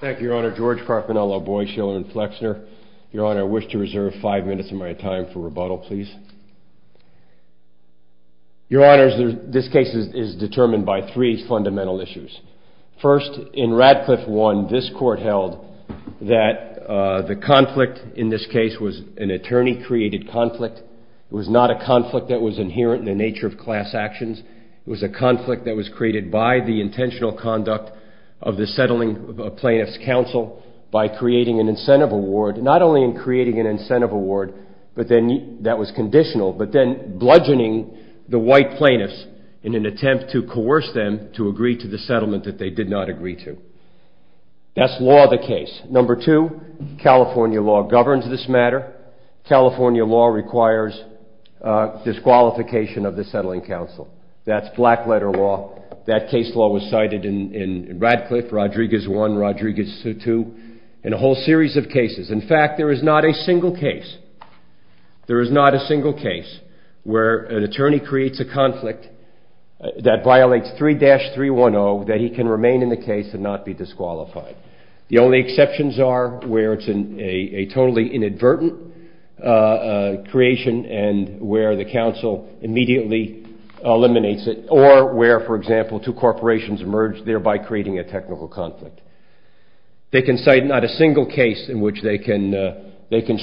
Thank you, Your Honor. George Carpinello Boyd, Shiller & Flexner. Your Honor, I wish to reserve five minutes of my time for rebuttal, please. Your Honors, this case is determined by three fundamental issues. First, in Radcliffe 1, this court held that the conflict in this case was an attorney-created conflict. It was not a conflict that was inherent in the nature of class actions. It was a conflict that was created by the intentional conduct of the settling plaintiff's counsel by creating an incentive award, not only in creating an incentive award that was conditional, but then bludgeoning the white plaintiffs in an attempt to coerce them to agree to the settlement that they did not agree to. That's law of the case. Number two, California law governs this matter. California law requires disqualification of the settling counsel. That's black letter law. That case law was cited in Radcliffe, Rodriguez 1, Rodriguez 2, and a whole series of cases. In fact, there is not a single case where an attorney creates a conflict that violates 3-310 that he can remain in the case and not be disqualified. The only exceptions are where it's a totally inadvertent creation and where the counsel immediately eliminates it, or where, for example, two corporations emerge, thereby creating a technical conflict. They can cite not a single case in which they can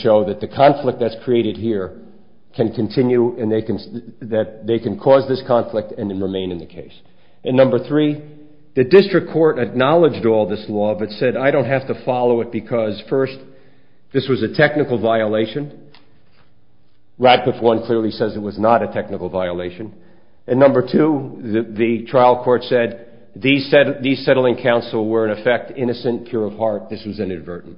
show that the conflict that's created here can continue and they can cause this conflict and remain in the case. And number three, the district court acknowledged all this law but said, I don't have to follow it because, first, this was a technical violation. Radcliffe 1 clearly says it was not a technical violation. And number two, the trial court said these settling counsel were, in effect, innocent, pure of heart. This was inadvertent.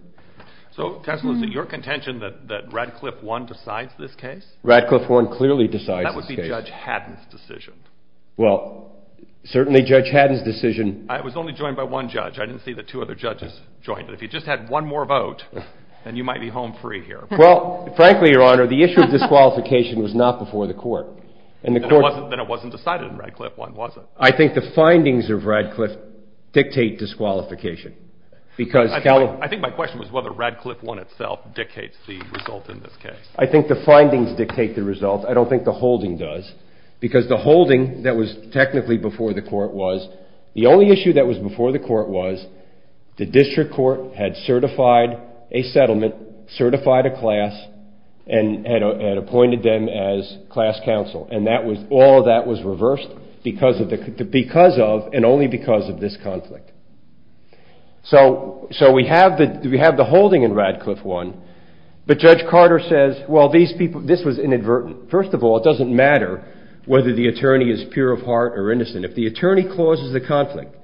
So counsel, is it your contention that Radcliffe 1 decides this case? Radcliffe 1 clearly decides this case. That would be Judge Haddon's decision. Well, certainly Judge Haddon's decision. I was only joined by one judge. I didn't see that two other judges joined. But if you just had one more vote, then you might be home free here. Well, frankly, Your Honor, the issue of disqualification was not before the court. Then it wasn't decided in Radcliffe 1, was it? I think the findings of Radcliffe dictate disqualification. I think my question was whether Radcliffe 1 itself dictates the result in this case. I think the findings dictate the result. I don't think the holding does, because the holding that was technically before the court was, the only issue that was before the court was the district court had certified a settlement, certified a class, and had appointed them as class counsel. And all of that was reversed because of and only because of this conflict. So we have the holding in Radcliffe 1, but Judge Carter says, well, this was inadvertent. First of all, it doesn't matter whether the attorney is pure of heart or innocent. If the attorney causes a conflict,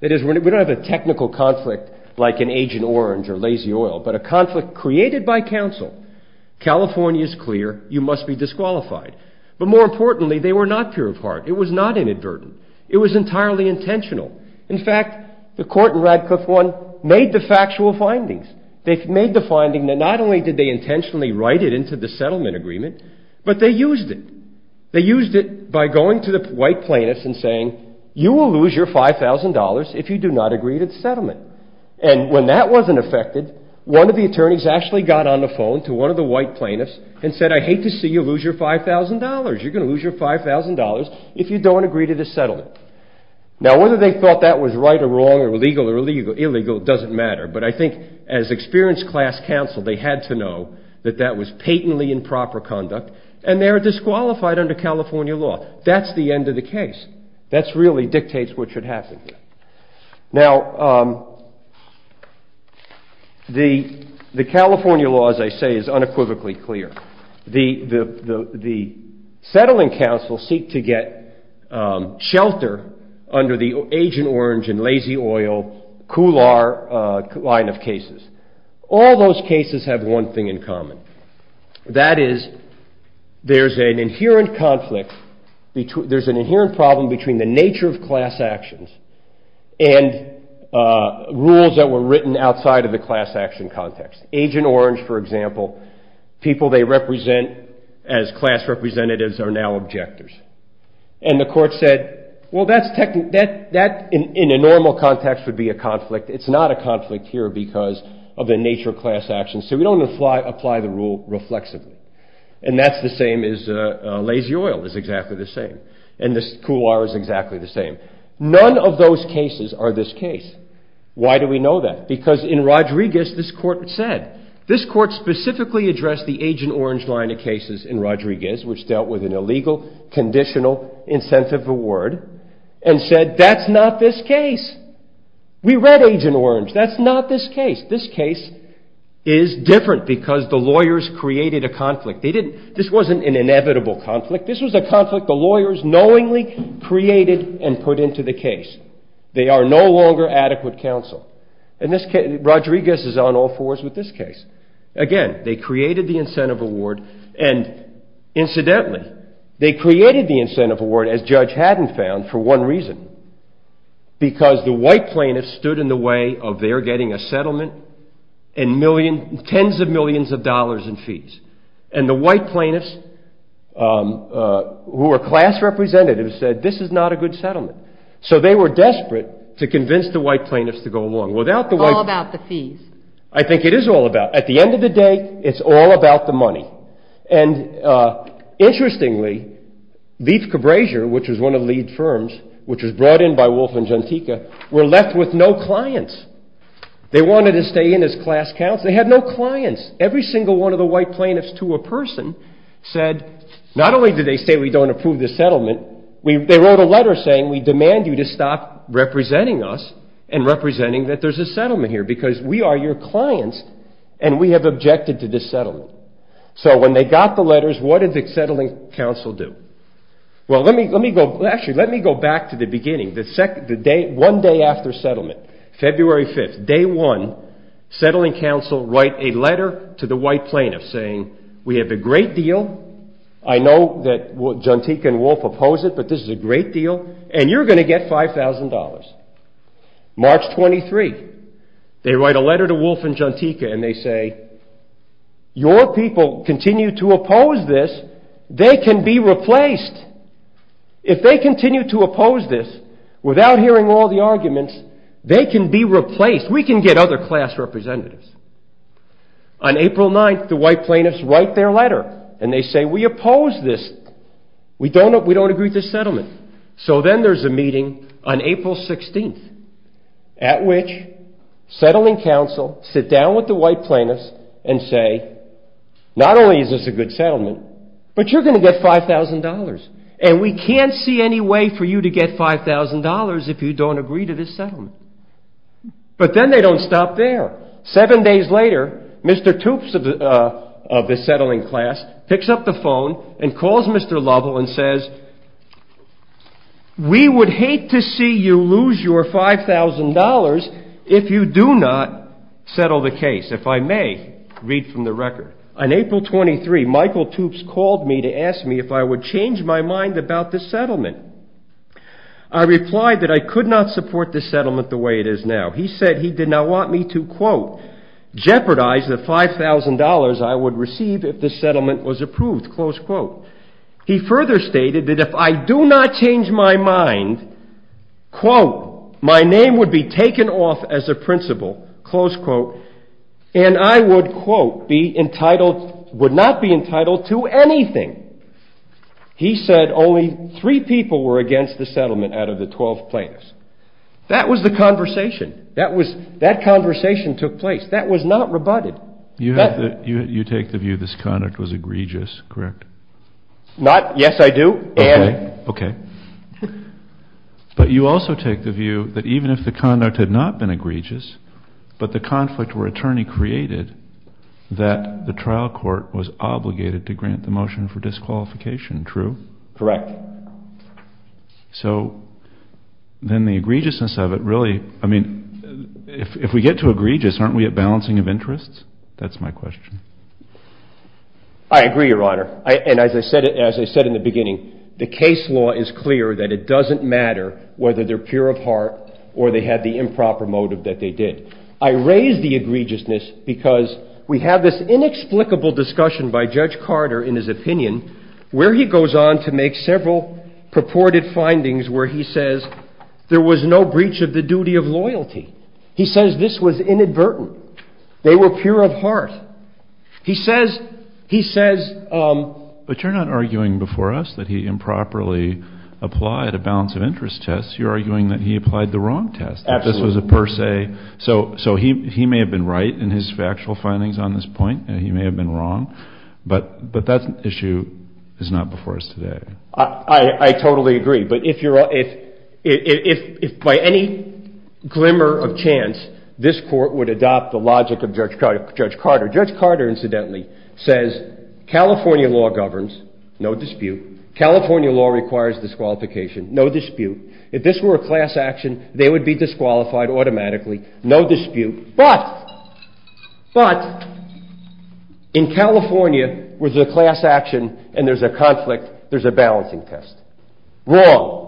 that is, we don't have a technical conflict like an Agent Orange or Lazy Oil, but a conflict created by counsel, California is clear. You must be disqualified. But more importantly, they were not pure of heart. It was not inadvertent. It was entirely intentional. In fact, the court in Radcliffe 1 made the factual findings. They made the finding that not only did they intentionally write it into the settlement agreement, but they used it. They used it by going to the white plaintiffs and saying, you will lose your $5,000 if you do not agree to the settlement. And when that wasn't affected, one of the attorneys actually got on the phone to one of the white plaintiffs and said, I hate to see you lose your $5,000. You're going to lose your $5,000 if you don't agree to the settlement. Now, whether they thought that was right or wrong or legal or illegal doesn't matter. But I think as experienced class counsel, they had to know that that was patently improper conduct, and they were disqualified under California law. That's the end of the case. That really dictates what should happen. Now, the California law, as I say, is unequivocally clear. The settling counsel seek to get shelter under the Agent Orange and Lazy Oil, COOLAR line of cases. All those cases have one thing in common. That is, there's an inherent problem between the nature of class actions and rules that were written outside of the class action context. Agent Orange, for example, people they represent as class representatives are now objectors. And the court said, well, that in a normal context would be a conflict. It's not a conflict here because of the nature of class actions. So we don't apply the rule reflexively. And that's the same as Lazy Oil is exactly the same. And this COOLAR is exactly the same. None of those cases are this case. Why do we know that? Because in Rodriguez this court said. This court specifically addressed the Agent Orange line of cases in Rodriguez, which dealt with an illegal conditional incentive award, and said that's not this case. We read Agent Orange. That's not this case. This case is different because the lawyers created a conflict. This wasn't an inevitable conflict. This was a conflict the lawyers knowingly created and put into the case. They are no longer adequate counsel. Rodriguez is on all fours with this case. Again, they created the incentive award. And incidentally, they created the incentive award, as Judge Haddon found, for one reason. Because the white plaintiffs stood in the way of their getting a settlement and tens of millions of dollars in fees. And the white plaintiffs who are class representatives said this is not a good settlement. So they were desperate to convince the white plaintiffs to go along. It's all about the fees. I think it is all about. At the end of the day, it's all about the money. And interestingly, Leaf Cabrasier, which was one of the lead firms, which was brought in by Wolf and Jantica, were left with no clients. They wanted to stay in as class counsel. They had no clients. Every single one of the white plaintiffs to a person said not only did they say we don't approve this settlement. They wrote a letter saying we demand you to stop representing us and representing that there's a settlement here. Because we are your clients and we have objected to this settlement. So when they got the letters, what did the settling counsel do? Well, let me go back to the beginning. One day after settlement, February 5th, day one, settling counsel write a letter to the white plaintiffs saying we have a great deal. I know that Jantica and Wolf oppose it, but this is a great deal and you're going to get $5,000. March 23, they write a letter to Wolf and Jantica and they say your people continue to oppose this. They can be replaced. If they continue to oppose this without hearing all the arguments, they can be replaced. We can get other class representatives. On April 9th, the white plaintiffs write their letter and they say we oppose this. We don't agree with this settlement. So then there's a meeting on April 16th at which settling counsel sit down with the white plaintiffs and say not only is this a good settlement, but you're going to get $5,000 and we can't see any way for you to get $5,000 if you don't agree to this settlement. But then they don't stop there. Seven days later, Mr. Toopes of the settling class picks up the phone and calls Mr. Lovell and says we would hate to see you lose your $5,000 if you do not settle the case. If I may read from the record. On April 23, Michael Toopes called me to ask me if I would change my mind about this settlement. I replied that I could not support this settlement the way it is now. He said he did not want me to, quote, jeopardize the $5,000 I would receive if this settlement was approved, close quote. He further stated that if I do not change my mind, quote, my name would be taken off as a principal, close quote, and I would, quote, be entitled, would not be entitled to anything. He said only three people were against the settlement out of the 12 plaintiffs. That was the conversation. That conversation took place. That was not rebutted. You take the view this conduct was egregious, correct? Not yes, I do. Okay. Okay. But you also take the view that even if the conduct had not been egregious, but the conflict were attorney created, that the trial court was obligated to grant the motion for disqualification, true? Correct. So then the egregiousness of it really, I mean, if we get to egregious, aren't we at balancing of interests? That's my question. I agree, Your Honor. And as I said in the beginning, the case law is clear that it doesn't matter whether they're pure of heart or they had the improper motive that they did. I raise the egregiousness because we have this inexplicable discussion by Judge Carter in his opinion where he goes on to make several purported findings where he says there was no breach of the duty of loyalty. He says this was inadvertent. They were pure of heart. He says, he says. But you're not arguing before us that he improperly applied a balance of interest test. You're arguing that he applied the wrong test. Absolutely. This was a per se. So he may have been right in his factual findings on this point and he may have been wrong. But that issue is not before us today. I totally agree. But if by any glimmer of chance this court would adopt the logic of Judge Carter. Judge Carter, incidentally, says California law governs, no dispute. California law requires disqualification, no dispute. If this were a class action, they would be disqualified automatically, no dispute. But, but, in California where there's a class action and there's a conflict, there's a balancing test. Wrong.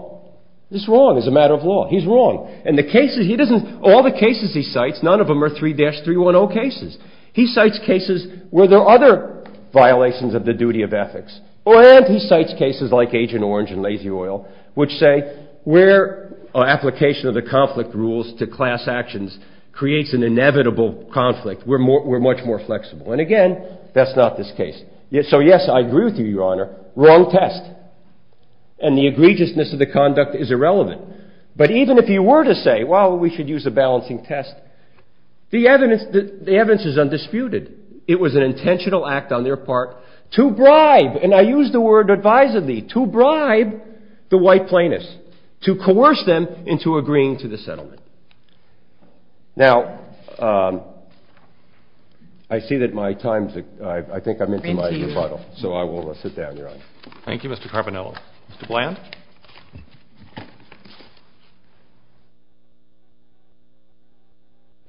This is wrong as a matter of law. He's wrong. And the cases, he doesn't, all the cases he cites, none of them are 3-310 cases. He cites cases where there are other violations of the duty of ethics. And he cites cases like Agent Orange and Lazy Oil, which say where application of the conflict rules to class actions creates an inevitable conflict. We're more, we're much more flexible. And again, that's not this case. So, yes, I agree with you, Your Honor. Wrong test. And the egregiousness of the conduct is irrelevant. But even if he were to say, well, we should use a balancing test, the evidence, the evidence is undisputed. It was an intentional act on their part to bribe, and I use the word advisedly, to bribe the white plaintiffs, to coerce them into agreeing to the settlement. Now, I see that my time's, I think I'm into my rebuttal. So I will sit down, Your Honor. Thank you, Mr. Carbonello. Mr. Bland?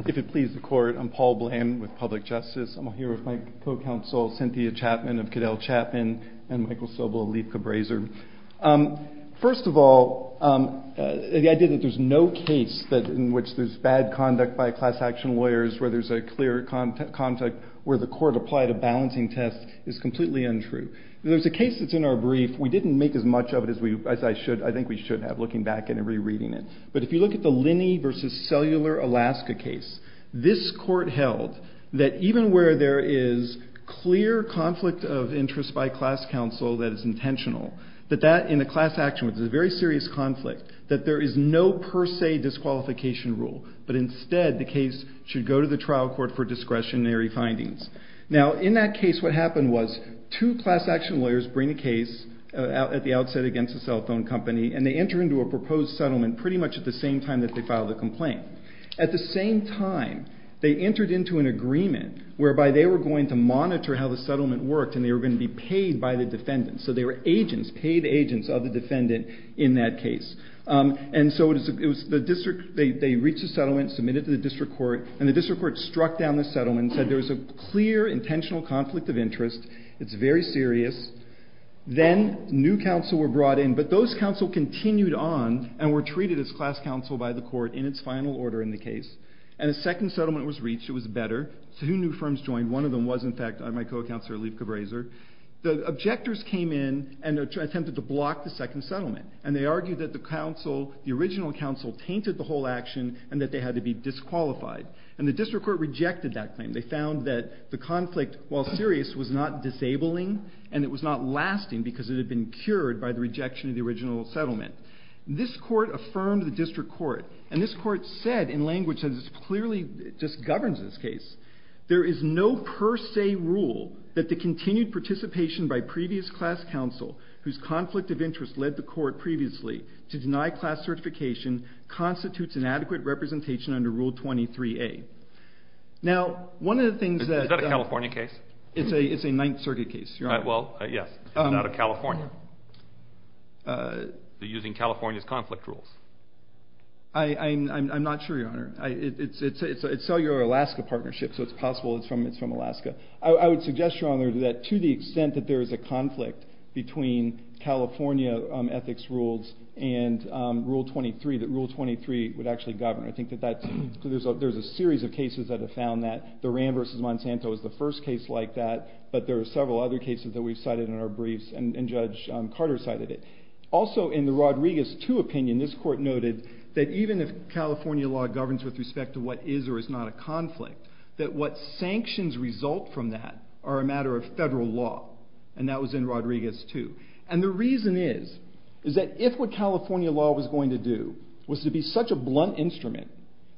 If it pleases the Court, I'm Paul Bland with Public Justice. I'm here with my co-counsel Cynthia Chapman of Caddell Chapman and Michael Sobel of Leith Cabraser. First of all, the idea that there's no case that, in which there's bad conduct by class action lawyers, where there's a clear contact, where the court applied a balancing test, is completely untrue. There's a case that's in our brief. We didn't make as much of it as I think we should have, looking back and rereading it. But if you look at the Linney v. Cellular, Alaska case, this court held that even where there is clear conflict of interest by class counsel that is intentional, that that in a class action, which is a very serious conflict, that there is no per se disqualification rule. But instead, the case should go to the trial court for discretionary findings. Now, in that case, what happened was two class action lawyers bring a case at the outset against a cell phone company, and they enter into a proposed settlement pretty much at the same time that they filed the complaint. At the same time, they entered into an agreement whereby they were going to monitor how the settlement worked, and they were going to be paid by the defendant. So they were agents, paid agents of the defendant in that case. And so they reached the settlement, submitted it to the district court, and the district court struck down the settlement, said there was a clear, intentional conflict of interest. It's very serious. Then new counsel were brought in, but those counsel continued on and were treated as class counsel by the court in its final order in the case. And a second settlement was reached. It was better. So two new firms joined. One of them was, in fact, my co-counselor, Leif Cabraser. The objectors came in and attempted to block the second settlement. And they argued that the original counsel tainted the whole action and that they had to be disqualified. And the district court rejected that claim. They found that the conflict, while serious, was not disabling, and it was not lasting because it had been cured by the rejection of the original settlement. This court affirmed the district court, and this court said in language that clearly just governs this case, there is no per se rule that the continued participation by previous class counsel, whose conflict of interest led the court previously to deny class certification, constitutes inadequate representation under Rule 23A. Now, one of the things that... Is that a California case? It's a Ninth Circuit case, Your Honor. Well, yes. It's not a California. I'm not sure, Your Honor. It's a cellular Alaska partnership, so it's possible it's from Alaska. I would suggest, Your Honor, that to the extent that there is a conflict between California ethics rules and Rule 23, that Rule 23 would actually govern. I think that there's a series of cases that have found that. The Rand v. Monsanto is the first case like that. But there are several other cases that we've cited in our briefs, and Judge Carter cited it. Also, in the Rodriguez II opinion, this court noted that even if California law governs with respect to what is or is not a conflict, that what sanctions result from that are a matter of federal law, and that was in Rodriguez II. And the reason is, is that if what California law was going to do was to be such a blunt instrument,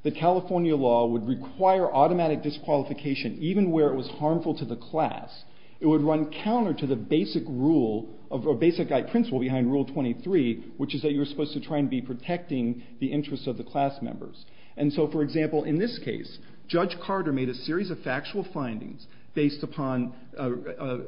that California law would require automatic disqualification even where it was harmful to the class, it would run counter to the basic principle behind Rule 23, which is that you're supposed to try and be protecting the interests of the class members. And so, for example, in this case, Judge Carter made a series of factual findings based upon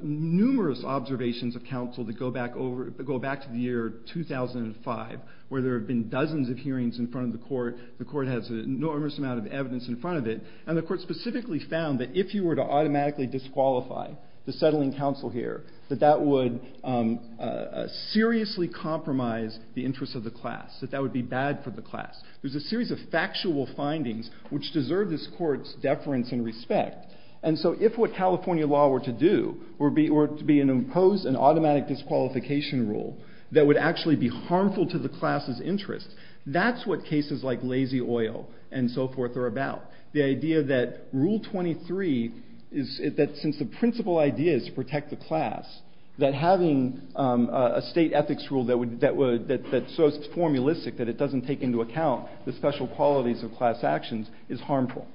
numerous observations of counsel that go back to the year 2005, where there have been dozens of hearings in front of the court, the court has an enormous amount of evidence in front of it, and the court specifically found that if you were to automatically disqualify the settling counsel here, that that would seriously compromise the interests of the class, that that would be bad for the class. There's a series of factual findings which deserve this court's deference and respect, and so if what California law were to do were to be to impose an automatic disqualification rule that would actually be harmful to the class's interests, that's what cases like Lazy Oil and so forth are about. The idea that Rule 23, since the principal idea is to protect the class, that having a state ethics rule that's so formulistic that it doesn't take into account the special qualities of class actions is harmful.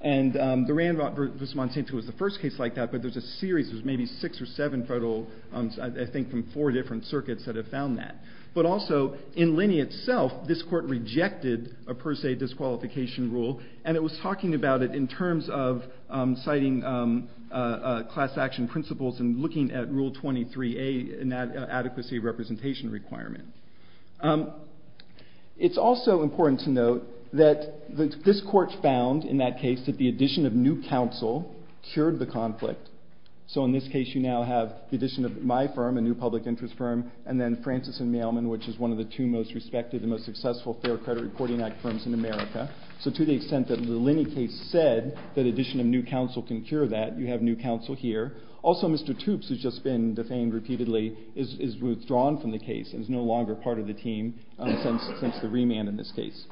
And the Randolph versus Monsanto was the first case like that, but there's a series, there's maybe six or seven federal, I think from four different circuits that have found that. But also, in Linney itself, this court rejected a per se disqualification rule, and it was talking about it in terms of citing class action principles and looking at Rule 23A, an adequacy representation requirement. It's also important to note that this court found, in that case, that the addition of new counsel cured the conflict. So in this case, you now have the addition of my firm, a new public interest firm, and then Francis and Mailman, which is one of the two most respected and most successful Fair Credit Reporting Act firms in America. So to the extent that the Linney case said that addition of new counsel can cure that, you have new counsel here. Also, Mr. Toopes, who's just been defamed repeatedly, is withdrawn from the case and is no longer part of the team since the remand in this case.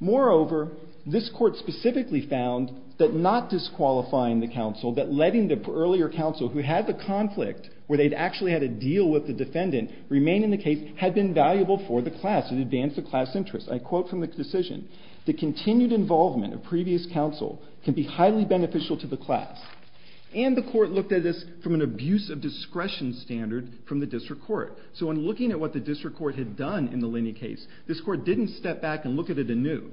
Moreover, this court specifically found that not disqualifying the counsel, that letting the earlier counsel who had the conflict, where they'd actually had a deal with the defendant, remain in the case, had been valuable for the class. It advanced the class interest. I quote from the decision, The continued involvement of previous counsel can be highly beneficial to the class. And the court looked at this from an abuse of discretion standard from the district court. So in looking at what the district court had done in the Linney case, this court didn't step back and look at it anew.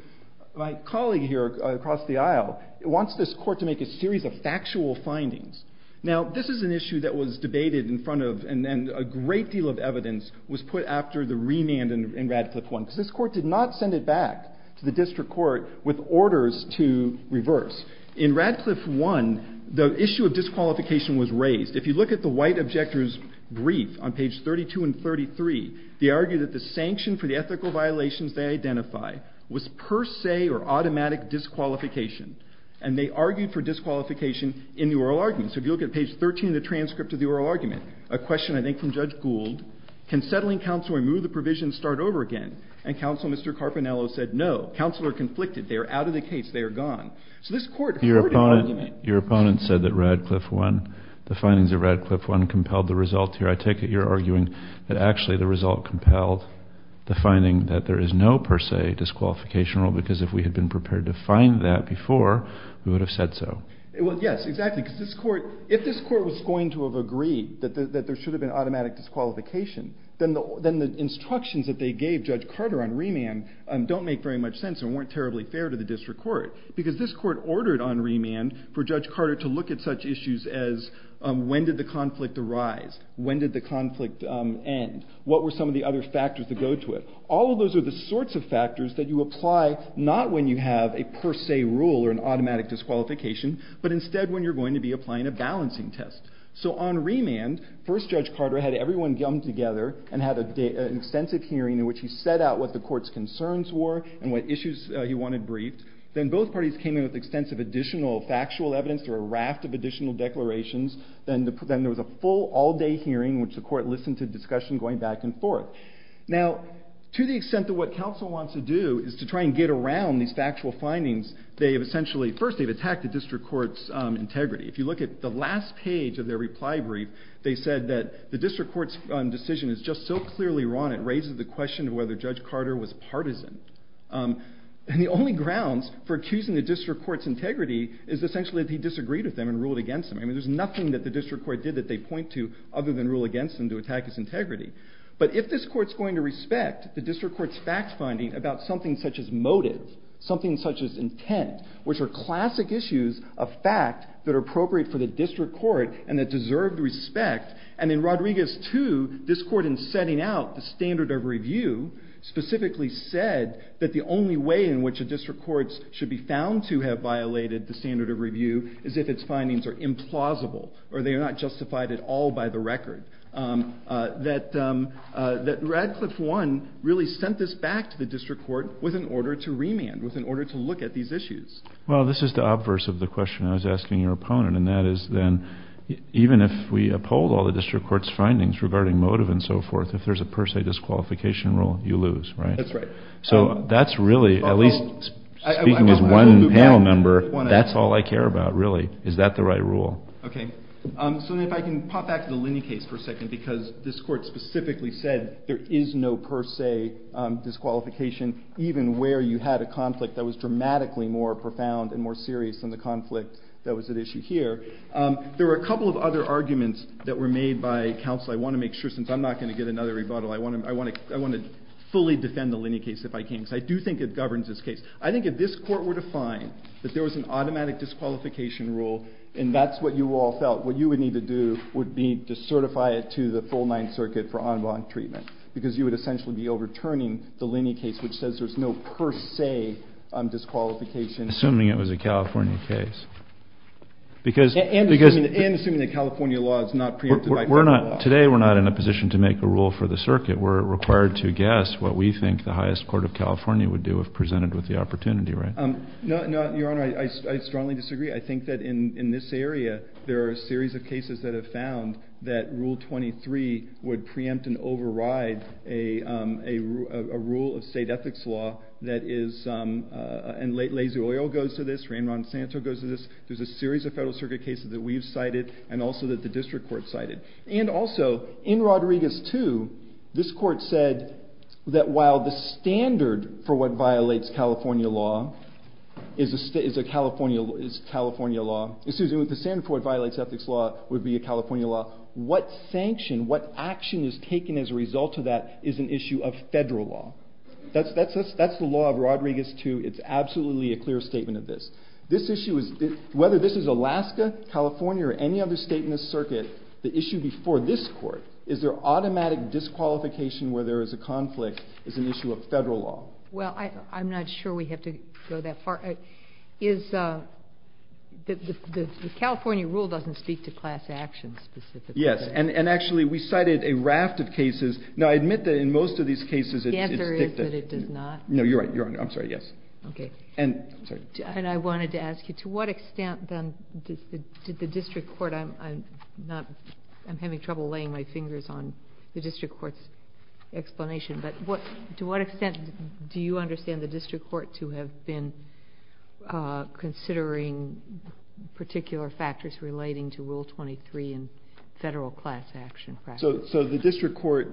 My colleague here across the aisle wants this court to make a series of factual findings. Now, this is an issue that was debated in front of and a great deal of evidence was put after the remand in Radcliffe 1 because this court did not send it back to the district court with orders to reverse. In Radcliffe 1, the issue of disqualification was raised. If you look at the white objector's brief on page 32 and 33, they argue that the sanction for the ethical violations they identify was per se or automatic disqualification. And they argued for disqualification in the oral argument. So if you look at page 13 of the transcript of the oral argument, a question, I think, from Judge Gould, Can settling counsel remove the provision and start over again? And counsel Mr. Carpinello said no. Counsel are conflicted. They are out of the case. They are gone. So this court heard an argument. Your opponent said that Radcliffe 1, the findings of Radcliffe 1 compelled the result here. I take it you're arguing that actually the result compelled the finding that there is no per se disqualification rule because if we had been prepared to find that before, we would have said so. Yes, exactly. Because if this court was going to have agreed that there should have been automatic disqualification, then the instructions that they gave Judge Carter on remand don't make very much sense and weren't terribly fair to the district court because this court ordered on remand for Judge Carter to look at such issues as when did the conflict arise, when did the conflict end, what were some of the other factors that go to it. All of those are the sorts of factors that you apply not when you have a per se rule or an automatic disqualification, but instead when you're going to be applying a balancing test. So on remand, first Judge Carter had everyone come together and had an extensive hearing in which he set out what the court's concerns were and what issues he wanted briefed. Then both parties came in with extensive additional factual evidence. There were a raft of additional declarations. Then there was a full all-day hearing in which the court listened to discussion going back and forth. Now, to the extent that what counsel wants to do is to try and get around these factual findings, first they've attacked the district court's integrity. If you look at the last page of their reply brief, they said that the district court's decision is just so clearly wrong it raises the question of whether Judge Carter was partisan. And the only grounds for accusing the district court's integrity is essentially that he disagreed with them and ruled against them. I mean, there's nothing that the district court did that they point to other than rule against them to attack his integrity. But if this court's going to respect the district court's fact-finding about something such as motive, something such as intent, which are classic issues of fact that are appropriate for the district court and that deserve respect, and in Rodriguez 2, this court in setting out the standard of review specifically said that the only way in which a district court should be found to have violated the standard of review is if its findings are implausible or they are not justified at all by the record, that Radcliffe 1 really sent this back to the district court with an order to remand, with an order to look at these issues. Well, this is the obverse of the question I was asking your opponent, and that is then even if we uphold all the district court's findings regarding motive and so forth, if there's a per se disqualification rule, you lose, right? That's right. So that's really, at least speaking as one panel member, that's all I care about, really. Is that the right rule? Okay. So then if I can pop back to the Linney case for a second because this court specifically said there is no per se disqualification even where you had a conflict that was dramatically more profound and more serious than the conflict that was at issue here. There were a couple of other arguments that were made by counsel. I want to make sure, since I'm not going to get another rebuttal, I want to fully defend the Linney case if I can because I do think it governs this case. I think if this court were to find that there was an automatic disqualification rule and that's what you all felt what you would need to do would be to certify it to the full Ninth Circuit for en banc treatment because you would essentially be overturning the Linney case which says there's no per se disqualification. Assuming it was a California case. And assuming that California law is not preempted by California law. Today we're not in a position to make a rule for the circuit. We're required to guess what we think the highest court of California would do if presented with the opportunity, right? No, Your Honor, I strongly disagree. I think that in this area there are a series of cases that have found that Rule 23 would preempt and override a rule of state ethics law that is – and Lazy Oil goes to this, Rain Ron Santo goes to this. There's a series of federal circuit cases that we've cited and also that the district court cited. And also, in Rodriguez 2, this court said that while the standard for what violates California law is California law. Excuse me, the standard for what violates ethics law would be a California law. What sanction, what action is taken as a result of that is an issue of federal law. That's the law of Rodriguez 2. It's absolutely a clear statement of this. This issue is – whether this is Alaska, California, or any other state in the circuit, the issue before this court is there automatic disqualification where there is a conflict is an issue of federal law. Well, I'm not sure we have to go that far. Is – the California rule doesn't speak to class action specifically. Yes, and actually we cited a raft of cases. Now, I admit that in most of these cases it's dictative. The answer is that it does not. No, you're right, Your Honor. I'm sorry, yes. Okay. And I wanted to ask you, to what extent then did the district court – I'm having trouble laying my fingers on the district court's explanation, but to what extent do you understand the district court to have been considering particular factors relating to Rule 23 and federal class action practices? So the district court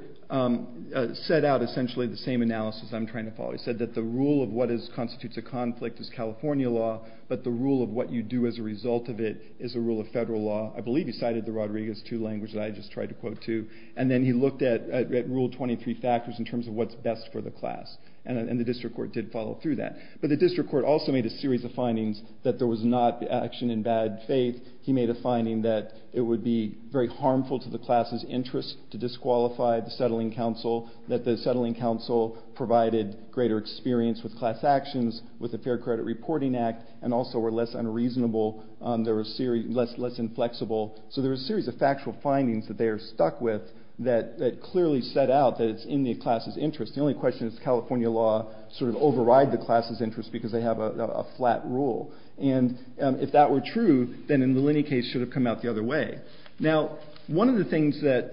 set out essentially the same analysis I'm trying to follow. It said that the rule of what constitutes a conflict is California law, but the rule of what you do as a result of it is a rule of federal law. I believe you cited the Rodriguez II language that I just tried to quote too. And then he looked at Rule 23 factors in terms of what's best for the class, and the district court did follow through that. But the district court also made a series of findings that there was not action in bad faith. He made a finding that it would be very harmful to the class's interest to disqualify the settling council, that the settling council provided greater experience with class actions, with the Fair Credit Reporting Act, and also were less unreasonable, less inflexible. So there were a series of factual findings that they are stuck with that clearly set out that it's in the class's interest. The only question is California law sort of override the class's interest because they have a flat rule. And if that were true, then the Linney case should have come out the other way. Now, one of the things that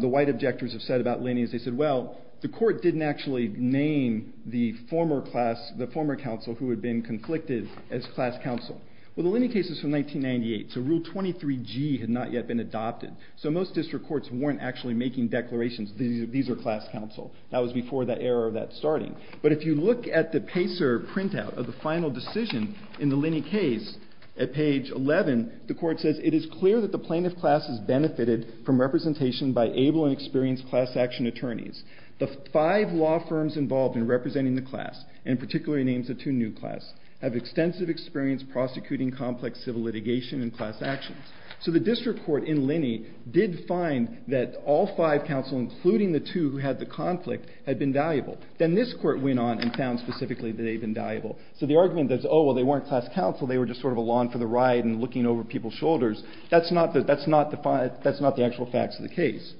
the white objectors have said about Linney is they said, well, the court didn't actually name the former council who had been conflicted as class council. Well, the Linney case is from 1998, so Rule 23G had not yet been adopted. So most district courts weren't actually making declarations, these are class council. That was before the era of that starting. But if you look at the Pacer printout of the final decision in the Linney case, at page 11, the court says, it is clear that the plaintiff class has benefited from representation by able and experienced class action attorneys. The five law firms involved in representing the class, and particularly names the two new class, have extensive experience prosecuting complex civil litigation and class actions. So the district court in Linney did find that all five council, including the two who had the conflict, had been valuable. Then this court went on and found specifically that they had been valuable. So the argument that, oh, well, they weren't class council, they were just sort of a lawn for the ride and looking over people's shoulders, that's not the actual facts of the case.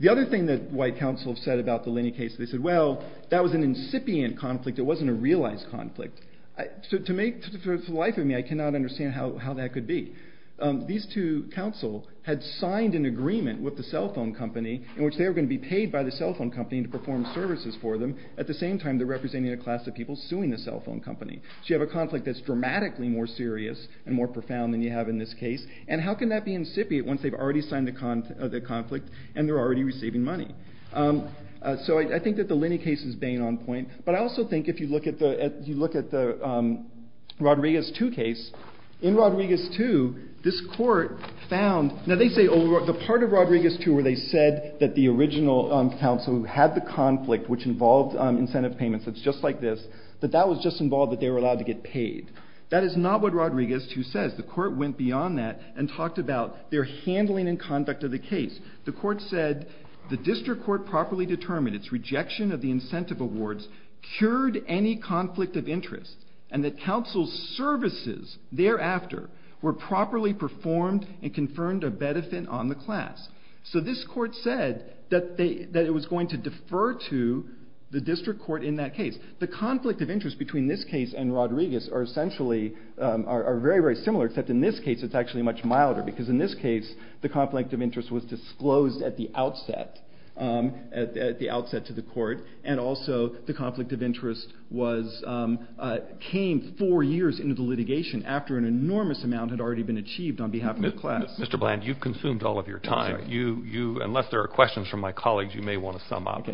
The other thing that white council have said about the Linney case, they said, well, that was an incipient conflict, it wasn't a realized conflict. To the life of me, I cannot understand how that could be. These two council had signed an agreement with the cell phone company in which they were going to be paid by the cell phone company to perform services for them. At the same time, they're representing a class of people suing the cell phone company. So you have a conflict that's dramatically more serious and more profound than you have in this case. And how can that be incipient once they've already signed the conflict and they're already receiving money? So I think that the Linney case is being on point. But I also think if you look at the Rodriguez 2 case, in Rodriguez 2, this court found, now they say the part of Rodriguez 2 where they said that the original council who had the conflict which involved incentive payments, it's just like this, that that was just involved that they were allowed to get paid. That is not what Rodriguez 2 says. The court went beyond that and talked about their handling and conduct of the case. The court said the district court properly determined its rejection of the incentive awards cured any conflict of interest and that council's services thereafter were properly performed and confirmed a benefit on the class. So this court said that it was going to defer to the district court in that case. The conflict of interest between this case and Rodriguez are essentially, are very, very similar except in this case it's actually much milder because in this case the conflict of interest was disclosed at the outset, at the outset to the court, and also the conflict of interest was, came four years into the litigation after an enormous amount had already been achieved on behalf of the class. Mr. Bland, you've consumed all of your time. Unless there are questions from my colleagues you may want to sum up.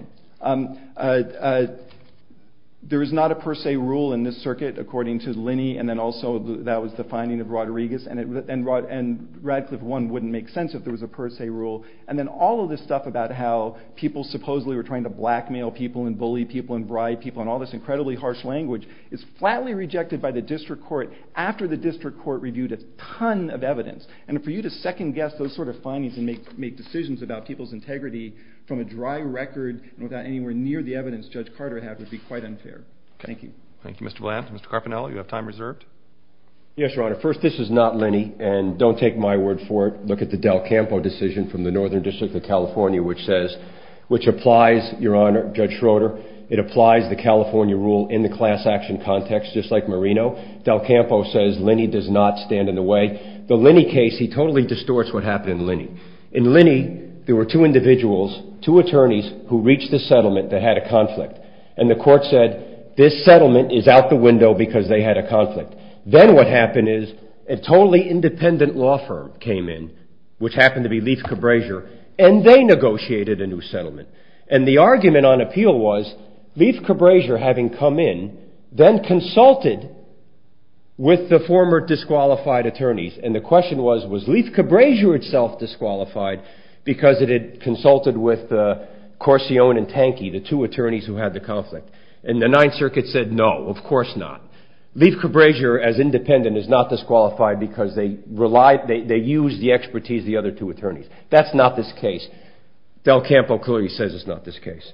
There is not a per se rule in this circuit according to Linney and then also that was the finding of Rodriguez and Radcliffe 1 wouldn't make sense if there was a per se rule and then all of this stuff about how people supposedly were trying to blackmail people and bully people and bribe people and all this incredibly harsh language is flatly rejected by the district court after the district court reviewed a ton of evidence and for you to second guess those sort of findings and make decisions about people's integrity from a dry record and without anywhere near the evidence Judge Carter had would be quite unfair. Thank you. Thank you, Mr. Bland. Mr. Carpinello, you have time reserved. Yes, Your Honor. First, this is not Linney and don't take my word for it. Look at the Del Campo decision from the Northern District of California which says, which applies, Your Honor, Judge Schroeder, it applies the California rule in the class action context just like Marino. Del Campo says Linney does not stand in the way. The Linney case, he totally distorts what happened in Linney. In Linney there were two individuals, two attorneys, who reached a settlement that had a conflict and the court said this settlement is out the window because they had a conflict. Then what happened is a totally independent law firm came in which happened to be Leaf Cabrasier and they negotiated a new settlement and the argument on appeal was Leaf Cabrasier having come in then consulted with the former disqualified attorneys and the question was, was Leaf Cabrasier itself disqualified because it had consulted with Corsione and Tankey, the two attorneys who had the conflict. And the Ninth Circuit said no, of course not. Leaf Cabrasier as independent is not disqualified because they relied, they used the expertise of the other two attorneys. That's not this case. Del Campo clearly says it's not this case.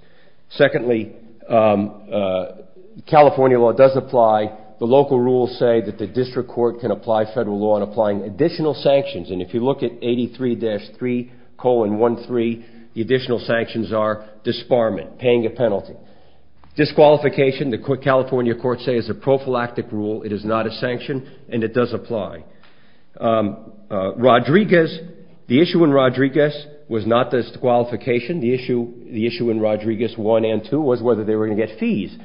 Secondly, California law does apply. The local rules say that the district court can apply federal law on applying additional sanctions and if you look at 83-3,13, the additional sanctions are disbarment, paying a penalty. Disqualification, the California courts say is a prophylactic rule. It is not a sanction and it does apply. Rodriguez, the issue in Rodriguez was not disqualification. The issue in Rodriguez 1 and 2 was whether they were going to get fees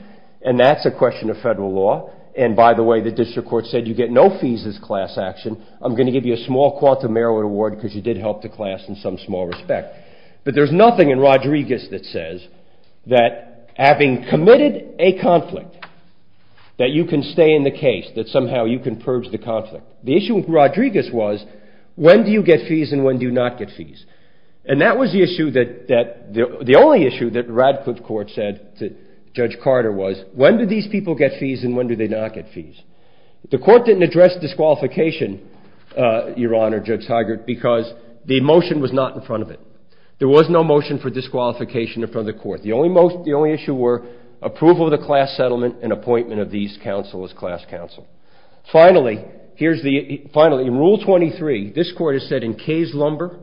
and that's a question of federal law and by the way, the district court said you get no fees as class action. I'm going to give you a small quantum merit award because you did help the class in some small respect. But there's nothing in Rodriguez that says that having committed a conflict that you can stay in the case, that somehow you can purge the conflict. The issue with Rodriguez was when do you get fees and when do you not get fees and that was the issue that the only issue that Radcliffe Court said to Judge Carter was when do these people get fees and when do they not get fees. The court didn't address disqualification, Your Honor, Judge Heigert, because the motion was not in front of it. There was no motion for disqualification in front of the court. The only issue were approval of the class settlement and appointment of these counsel as class counsel. Finally, in Rule 23, this court has said in Kay's Lumber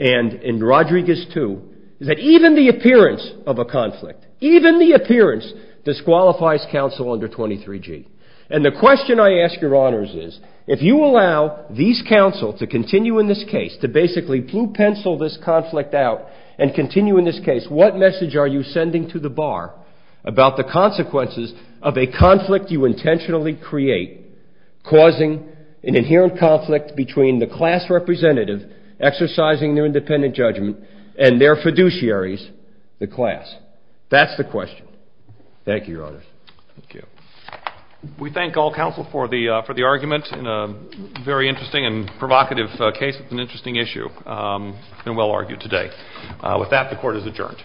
and in Rodriguez too that even the appearance of a conflict, even the appearance disqualifies counsel under 23G and the question I ask, Your Honors, is if you allow these counsel to continue in this case, to basically blue pencil this conflict out and continue in this case, what message are you sending to the bar about the consequences of a conflict you intentionally create causing an inherent conflict between the class representative exercising their independent judgment and their fiduciaries, the class? That's the question. Thank you, Your Honors. Thank you. We thank all counsel for the argument in a very interesting and provocative case. It's an interesting issue and well argued today. With that, the court is adjourned.